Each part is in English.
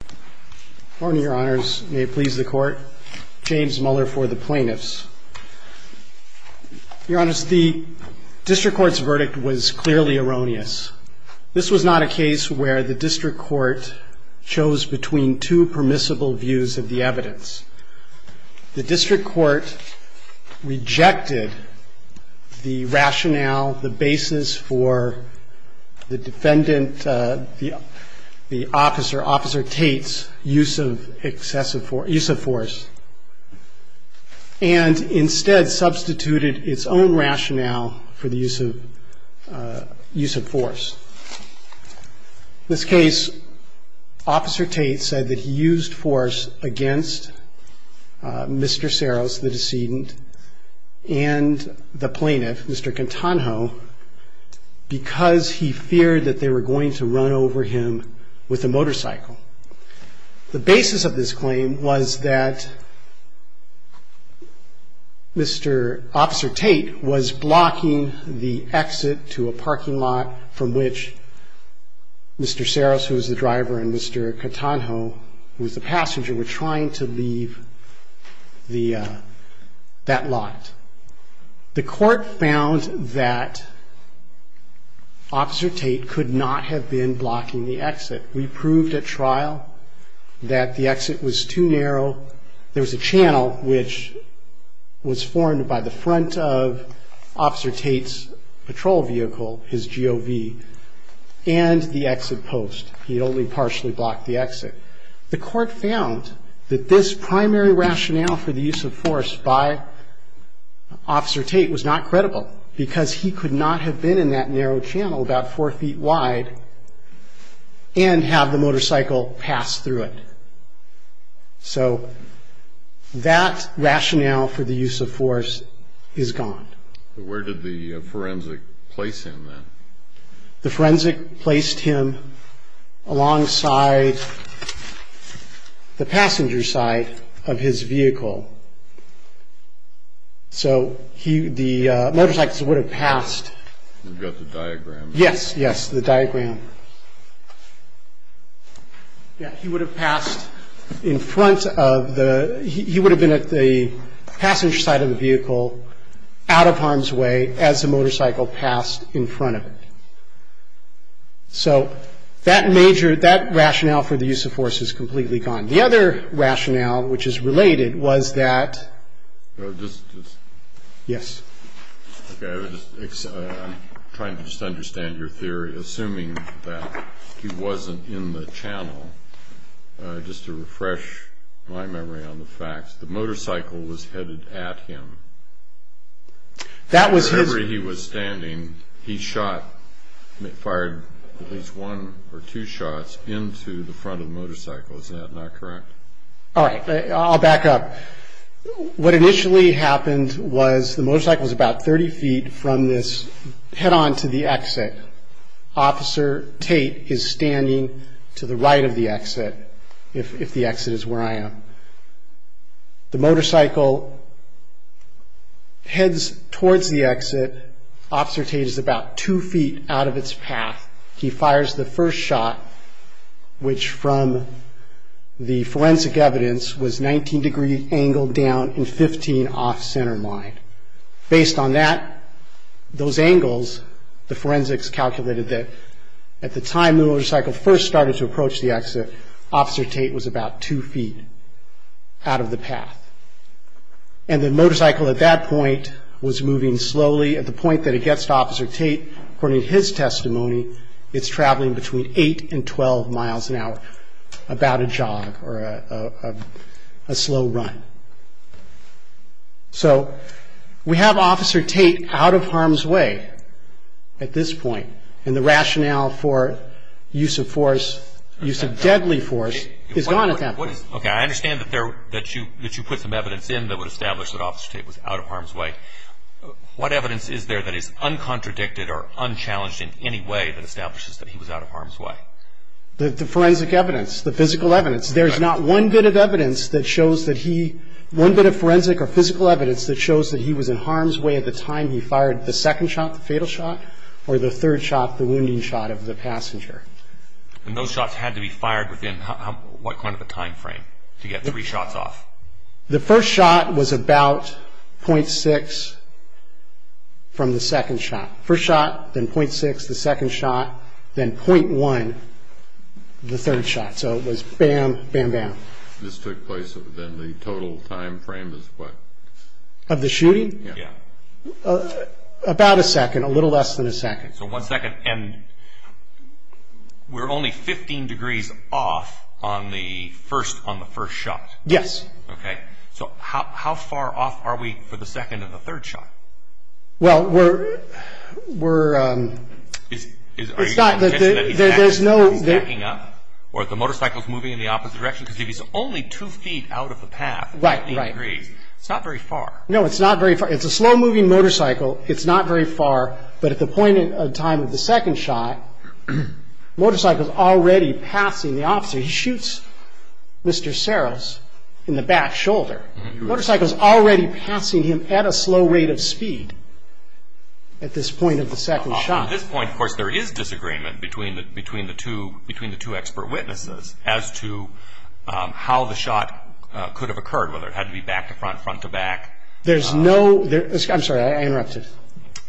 Court. Good morning, Your Honors. May it please the Court. James Muller for the Plaintiffs. Your Honors, the District Court's verdict was clearly erroneous. This was not a case where the District Court chose between two permissible views of the evidence. The District Court rejected the rationale, the basis for the defendant, Officer Tate's use of force, and instead substituted its own rationale for the use of force. In this case, Officer Tate said that he used force against Mr. Cerros, the decedent, and the plaintiff, Mr. Cantanjo, because he feared that they were going to run over him with a motorcycle. The basis of this claim was that Mr. Officer Tate was blocking the exit to a parking lot from which Mr. Cerros, who was the driver, and Mr. Cantanjo, who was the passenger, were trying to leave that lot. The Court found that Officer Tate could not have been blocking the exit. We proved at trial that the exit was too narrow. There was a channel which was formed by the and the exit post. He only partially blocked the exit. The Court found that this primary rationale for the use of force by Officer Tate was not credible because he could not have been in that narrow channel about four feet wide and have the motorcycle pass through it. So that rationale for the use of force is gone. Where did the forensic place him then? The forensic placed him alongside the passenger side of his vehicle. So the motorcycles would have passed. You've got the diagram? Yes, yes, the diagram. He would have passed in front of the, he would have been at the motorcycle passed in front of it. So that major, that rationale for the use of force is completely gone. The other rationale, which is related, was that... Just... Yes. I'm trying to just understand your theory, assuming that he wasn't in the channel. Just to refresh my memory on the facts, the motorcycle was headed at him. That was his... From the degree he was standing, he shot, fired at least one or two shots into the front of the motorcycle. Is that not correct? All right, I'll back up. What initially happened was the motorcycle was about 30 feet from this, head on to the exit. Officer Tate is standing to the right of the exit, if the exit, Officer Tate is about two feet out of its path. He fires the first shot, which from the forensic evidence was 19 degrees angled down and 15 off center line. Based on that, those angles, the forensics calculated that at the time the motorcycle first started to approach the exit, Officer Tate was about two feet out of the path. And the motorcycle at that point was moving slowly. At the point that it gets to Officer Tate, according to his testimony, it's traveling between 8 and 12 miles an hour, about a jog or a slow run. So we have Officer Tate out of harm's way at this point, and the rationale for use of force, use of deadly force, is gone at that point. Okay, I understand that you put some evidence in that would establish that Officer Tate was out of harm's way. What evidence is there that is uncontradicted or unchallenged in any way that establishes that he was out of harm's way? The forensic evidence, the physical evidence. There's not one bit of evidence that shows that he, one bit of forensic or physical evidence that shows that he was in harm's way at the time he fired the second shot, the fatal shot, or the third shot, the wounding shot of the passenger. And those shots had to be fired within what kind of a time frame to get three shots off? The first shot was about .6 from the second shot. First shot, then .6, the second shot, then .1, the third shot. So it was bam, bam, bam. This took place within the total time frame of what? Of the shooting? Yeah. Yeah. About a second, a little less than a second. So one second, and we're only 15 degrees off on the first, on the first shot. Yes. Okay. So how far off are we for the second and the third shot? Well, we're, we're, um, it's not, there's no, there's no, He's backing up? Or the motorcycle's moving in the opposite direction? Because if he's only two feet out of the path, Right, right. 15 degrees, it's not very far. No, it's not very far. It's a slow-moving motorcycle. It's not very far. But at the point in time of the second shot, the motorcycle's already passing the officer. He shoots Mr. Saros in the back shoulder. Motorcycle's already passing him at a slow rate of speed at this point of the second shot. At this point, of course, there is disagreement between the, between the two, between the two expert witnesses as to how the shot could have occurred, whether it had to be back to front, front to back. There's no, there, I'm sorry, I interrupted.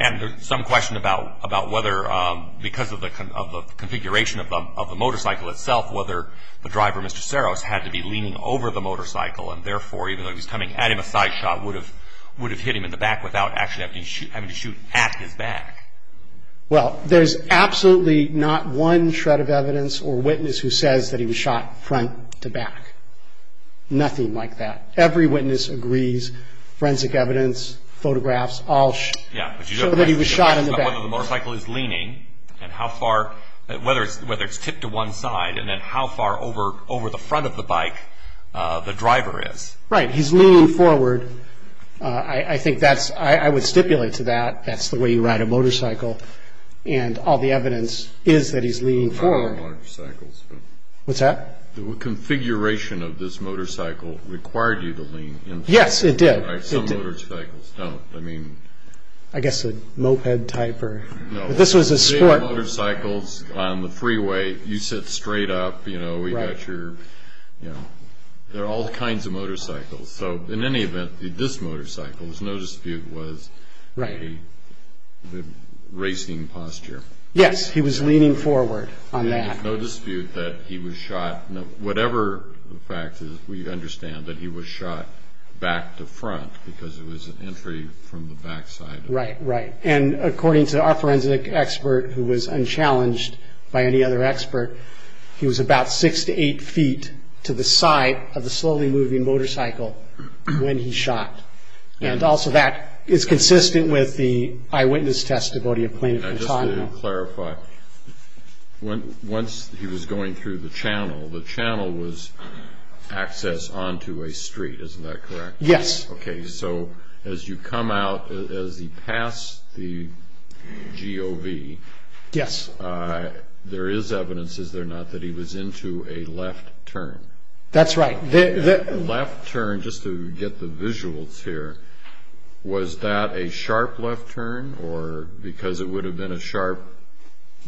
And there's some question about, about whether, um, because of the, of the configuration of of the motorcycle itself, whether the driver, Mr. Saros, had to be leaning over the motorcycle and therefore, even though he was coming at him, a side shot would have, would have hit him in the back without actually having to shoot, having to shoot at his back. Well, there's absolutely not one shred of evidence or witness who says that he was shot front to back. Nothing like that. Every witness agrees. Forensic evidence, photographs, all show that he was shot in the back. And whether the motorcycle is leaning and how far, whether it's, whether it's tipped to one side and then how far over, over the front of the bike the driver is. Right. He's leaning forward. I think that's, I would stipulate to that, that's the way you ride a motorcycle. And all the evidence is that he's leaning forward. I don't ride motorcycles. What's that? The configuration of this motorcycle required you to lean in. Yes, it did. Some motorcycles don't. I mean. I guess a moped type or, but this was a sport. Motorcycles on the freeway, you sit straight up, you know, we got your, you know, there are all kinds of motorcycles. So in any event, this motorcycle, there's no dispute, was a, the racing posture. Yes. He was leaning forward on that. There's no dispute that he was shot. Whatever the fact is, we understand that he was shot back to front because it was an entry from the backside. Right, right. And according to our forensic expert, who was unchallenged by any other expert, he was about six to eight feet to the side of the slowly moving motorcycle when he shot. And also that is consistent with the eyewitness testimony of Plaintiff Antonio. Just to clarify, once he was going through the channel, the channel was access onto a street, is that correct? Yes. Okay. So as you come out, as he passed the GOV, there is evidence, is there not, that he was into a left turn? That's right. Left turn, just to get the visuals here, was that a sharp left turn or because it would have been a sharp,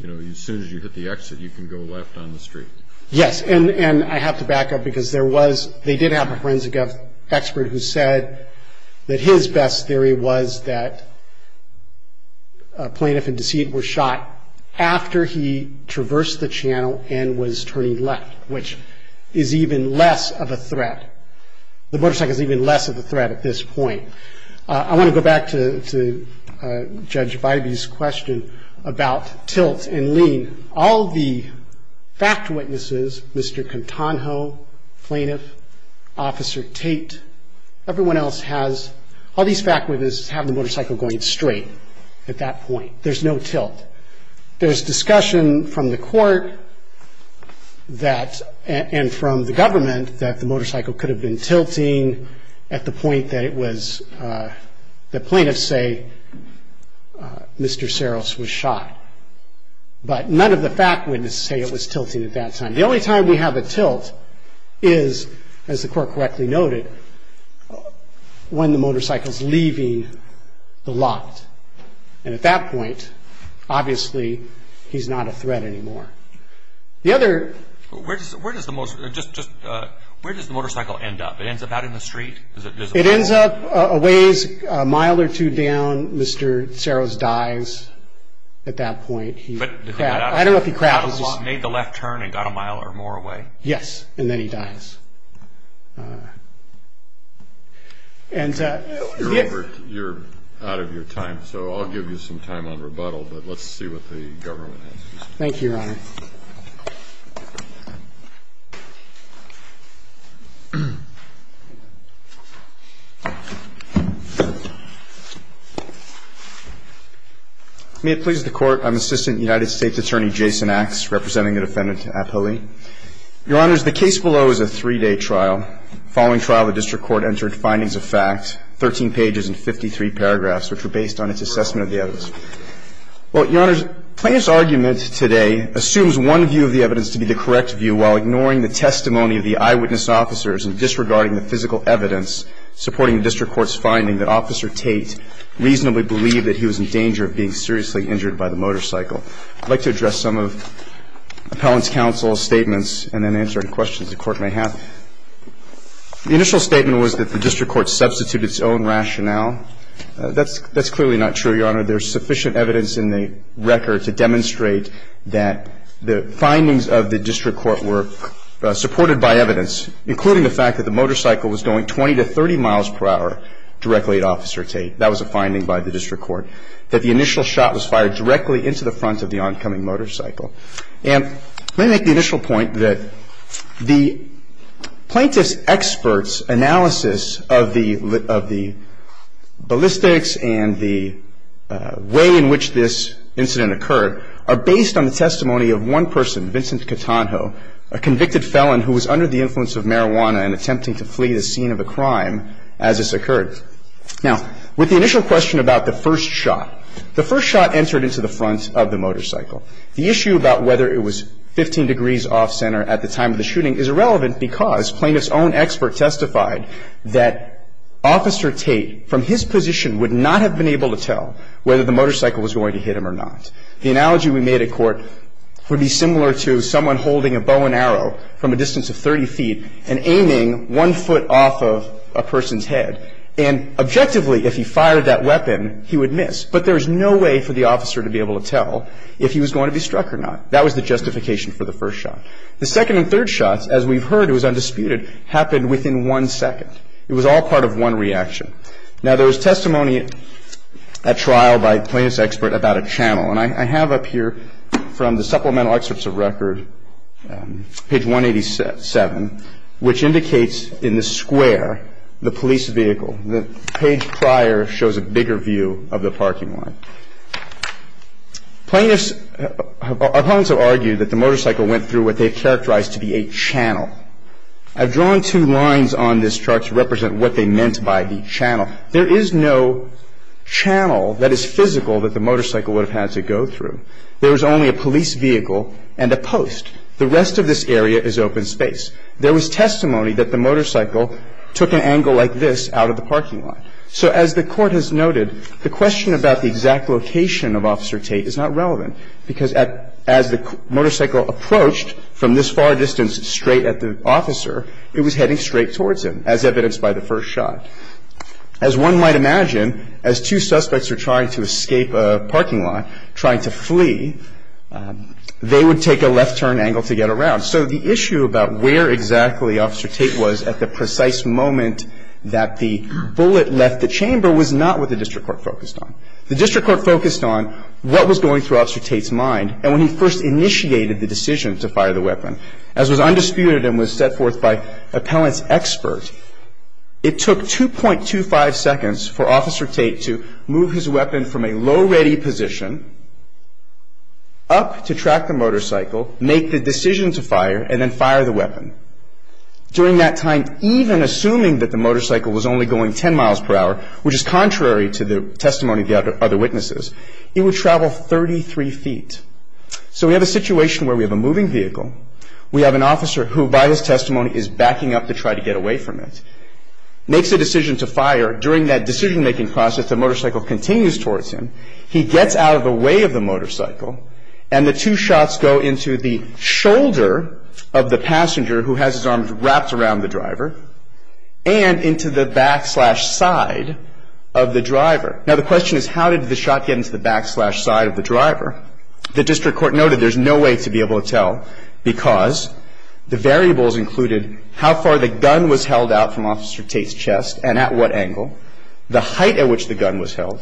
you know, as soon as you hit the exit, you can go left on the street? Yes. And I have to back up because there was, they did have a forensic expert who said that his best theory was that Plaintiff and Deceit were shot after he traversed the channel and was turning left, which is even less of a threat. The motorcycle is even less of a threat at this point. I want to go back to Judge Bybee's question about tilt and lean. All the fact witnesses, Mr. Contanjo, Plaintiff, Officer Tate, everyone else has, all these fact witnesses have the motorcycle going straight at that point. There's no tilt. There's discussion from the court that, and from the government, that the motorcycle could have been tilting at the point that it was, that plaintiffs say Mr. Saros was shot. But none of the fact witnesses say it was tilting at that time. The only time we have a tilt is, as the court correctly noted, when the motorcycle's leaving the lot. And at that point, obviously, he's not a threat anymore. Where does the motorcycle end up? It ends up out in the street? It ends up a ways, a mile or two down. Mr. Saros dies at that point. He made the left turn and got a mile or more away? Yes, and then he dies. You're out of your time, so I'll give you some time on rebuttal, but let's see what the government has to say. Thank you, Your Honor. May it please the Court, I'm Assistant United States Attorney Jason Axe, representing the defendant, Abhili. Your Honors, the case below is a three-day trial. Following trial, the district court entered findings of fact, 13 pages and 53 paragraphs, which were based on its assessment of the evidence. Well, Your Honors, plaintiff's argument today assumes one view of the evidence to be the correct view while ignoring the testimony of the eyewitness officers and disregarding the physical evidence supporting the district court's finding that Officer Tate reasonably believed that he was in danger of being seriously injured by the motorcycle. I'd like to address some of Appellant's counsel's statements and then answer any questions the Court may have. The initial statement was that the district court substituted its own rationale. That's clearly not true, Your Honor. There's sufficient evidence in the record to demonstrate that the findings of the district court were supported by evidence, including the fact that the motorcycle was going 20 to 30 miles per hour directly at Officer Tate. That was a finding by the district court, that the initial shot was fired directly into the front of the oncoming motorcycle. And let me make the initial point that the plaintiff's expert's analysis of the ballistics and the way in which this incident occurred are based on the testimony of one person, Vincent Catanjo, a convicted felon who was under the influence of marijuana and attempting to flee the scene of a crime as this occurred. Now, with the initial question about the first shot, the first shot entered into the front of the motorcycle. The issue about whether it was 15 degrees off-center at the time of the shooting is irrelevant because plaintiff's own expert testified that Officer Tate, from his position, would not have been able to tell whether the motorcycle was going to hit him or not. The second and third shots, as we've heard, it was undisputed, happened within one second. It was all part of one reaction. Now, there was testimony at trial by the plaintiff's expert about a channel. And I have up here, from the supplemental excerpts of record, page 187, which indicates, in this case, that the motorcycle went through what they've characterized to be a channel. I've drawn two lines on this chart to represent what they meant by the channel. There is no channel that is physical that the motorcycle would have had to go through. There was only a police vehicle and a post. The rest of this area is open space. There Now, the question about where exactly Officer Tate was at the time of the shooting shooting is not relevant because the motorcycle took an angle like this out of the parking lot. So as the Court has noted, the question about the exact location of a parking lot, trying to flee, they would take a left turn angle to get around. So the issue about where exactly Officer Tate was at the precise moment that the bullet left the chamber was not what the district court focused on. The district court focused on what was going through Officer Tate's mind. And when he first initiated the decision to fire the weapon, as was undisputed and was set forth by the district court, he would take a go-ready position up to track the motorcycle, make the decision to fire, and then fire the weapon. During that time, even assuming that the motorcycle was only going 10 miles per hour, which is contrary to the testimony of the other witnesses, it would travel 33 feet. So we have a situation where we have a moving vehicle, we have an officer who by his testimony is backing up to try to get away from it, makes a decision to fire. During that decision-making process, the motorcycle continues towards him. He gets out of the way of the motorcycle, and the two shots go into the shoulder of the passenger who has his arms wrapped around the driver and into the backslash side of the driver. Now, the question is how did the shot get into the backslash side of the vehicle? And the court was able to determine how far the gun was held out from Officer Tate's chest and at what angle, the height at which the gun was held,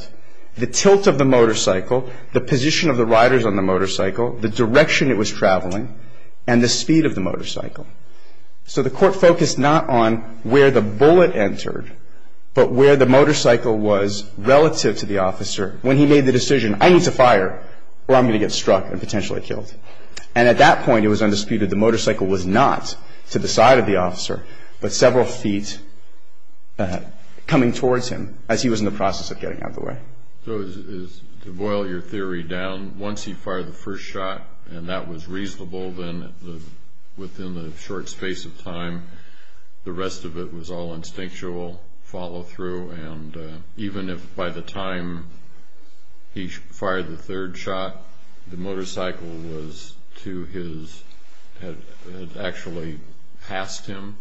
the tilt of the motorcycle, the position of the riders on the motorcycle, the direction it was traveling, and the speed of the motorcycle. So the court focused not on where the bullet entered, but where the motorcycle was relative to the officer when he made the decision, I need to fire, or I'm going to get struck and potentially killed. And at that point, it was undisputed, the motorcycle was not to the side of the officer, but several feet coming towards him as he was in the process of getting out of the way. So to boil your theory down, once he fired the first shot and that was reasonable within the short space of time, the rest of it was all instinctual follow-through and even if by the time he fired the third shot, the motorcycle was to his, had actually passed him,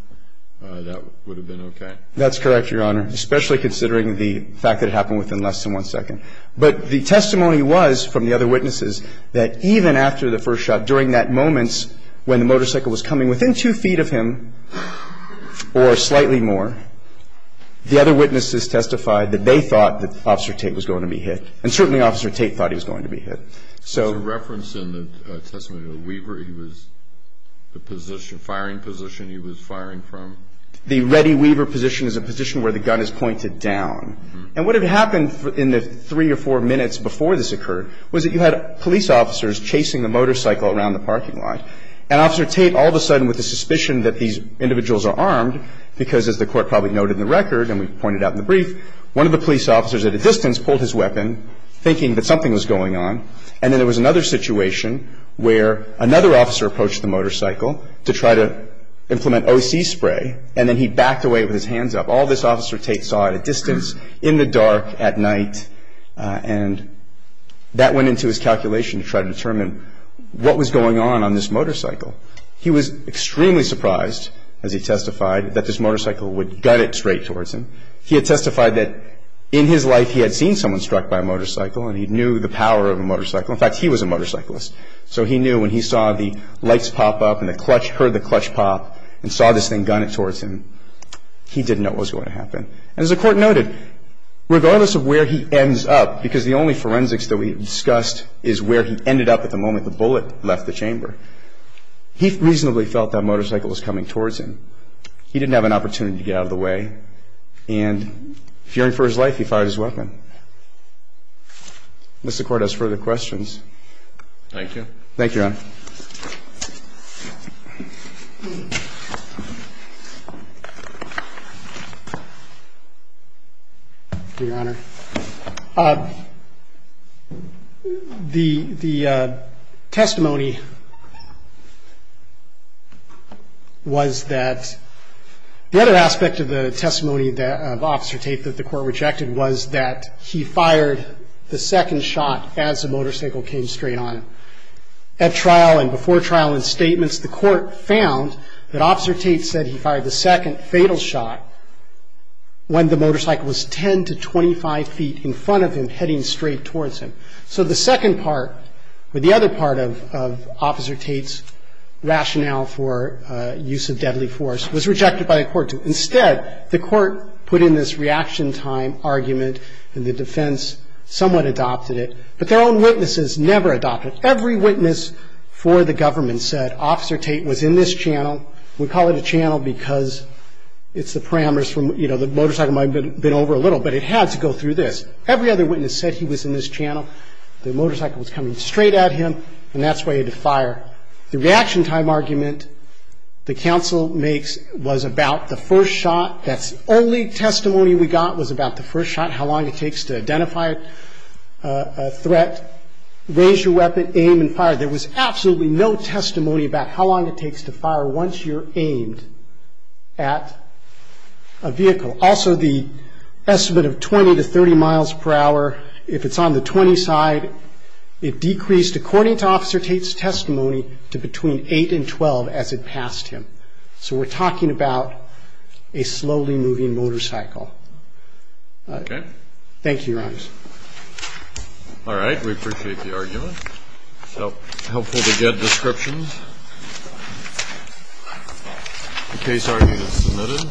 that would have been okay? That's correct, Your Honor, especially considering the fact that it happened within less than one second. But the testimony was from the other witnesses that even after the first shot, during that moment when the motorcycle was coming and within two feet of him or slightly more, the other witnesses testified that they thought that Officer Tate was going to be hit. And certainly Officer Tate thought he was going to be hit. Was there reference in the testimony to the Weaver? He was, the firing position he was firing from? The ready Weaver position is a position where the gun is pointed down. And what had happened in the three or four minutes before this occurred was that you had police officers chasing the motorcycle around the parking lot. And Officer Tate all of a sudden with the suspicion that these individuals are armed, because as the court probably noted in the record and we pointed out in the brief, one of the police officers at a distance pulled his weapon, thinking that something was going on. And then there was another situation where another officer approached the motorcycle to try to implement O.C. spray, and then he backed away with his hands up. All this Officer Tate saw at a distance, in the dark, at night, and that went into his calculation to try to determine what was going on on this motorcycle. He was extremely surprised, as he testified, that this motorcycle would gun it straight towards him. He had testified that in his life he had seen someone struck by a motorcycle and he knew the power of a motorcycle. In fact, he was a motorcyclist. So he knew when he saw the lights pop up and the clutch, heard the clutch pop and saw this thing gun it towards him, he didn't know what was going to happen. And as the court noted, regardless of where he ends up, because the only forensics that we discussed is where he ended up at the moment the bullet left the chamber, he reasonably felt that motorcycle was coming towards him. He didn't have an opportunity to get out of the way. And fearing for his life, he fired his weapon. Unless the Court has further questions. Thank you, Your Honor. Your Honor, the testimony was that the other aspect of the testimony of Officer Tate that the Court rejected was that he fired the second shot as the motorcycle came straight on him. At trial and before trial and statements, the Court rejected the testimony of Officer Tate. The Court found that Officer Tate said he fired the second fatal shot when the motorcycle was 10 to 25 feet in front of him, heading straight towards him. So the second part, or the other part of Officer Tate's rationale for use of deadly force was rejected by the Court. Instead, the Court put in this reaction time argument and the defense somewhat adopted it, but their own witnesses never adopted it. Every witness for the government said Officer Tate was in this channel. We call it a channel because it's the parameters from, you know, the motorcycle might have been over a little, but it had to go through this. Every other witness said he was in this channel. The motorcycle was coming straight at him, and that's why he had to fire. The reaction time argument the counsel makes was about the first shot. That's the only testimony we got was about the first shot, how long it takes to identify a threat, raise your weapon, aim, and fire. There was absolutely no testimony about how long it takes to fire once you're aimed at a vehicle. Also, the estimate of 20 to 30 miles per hour, if it's on the 20 side, it decreased, according to Officer Tate's testimony, to between 8 and 12 as it passed him. So we're talking about a slowly moving motorcycle. Thank you, Your Honor. All right. We appreciate the argument. So helpful to get descriptions. The case argument is submitted.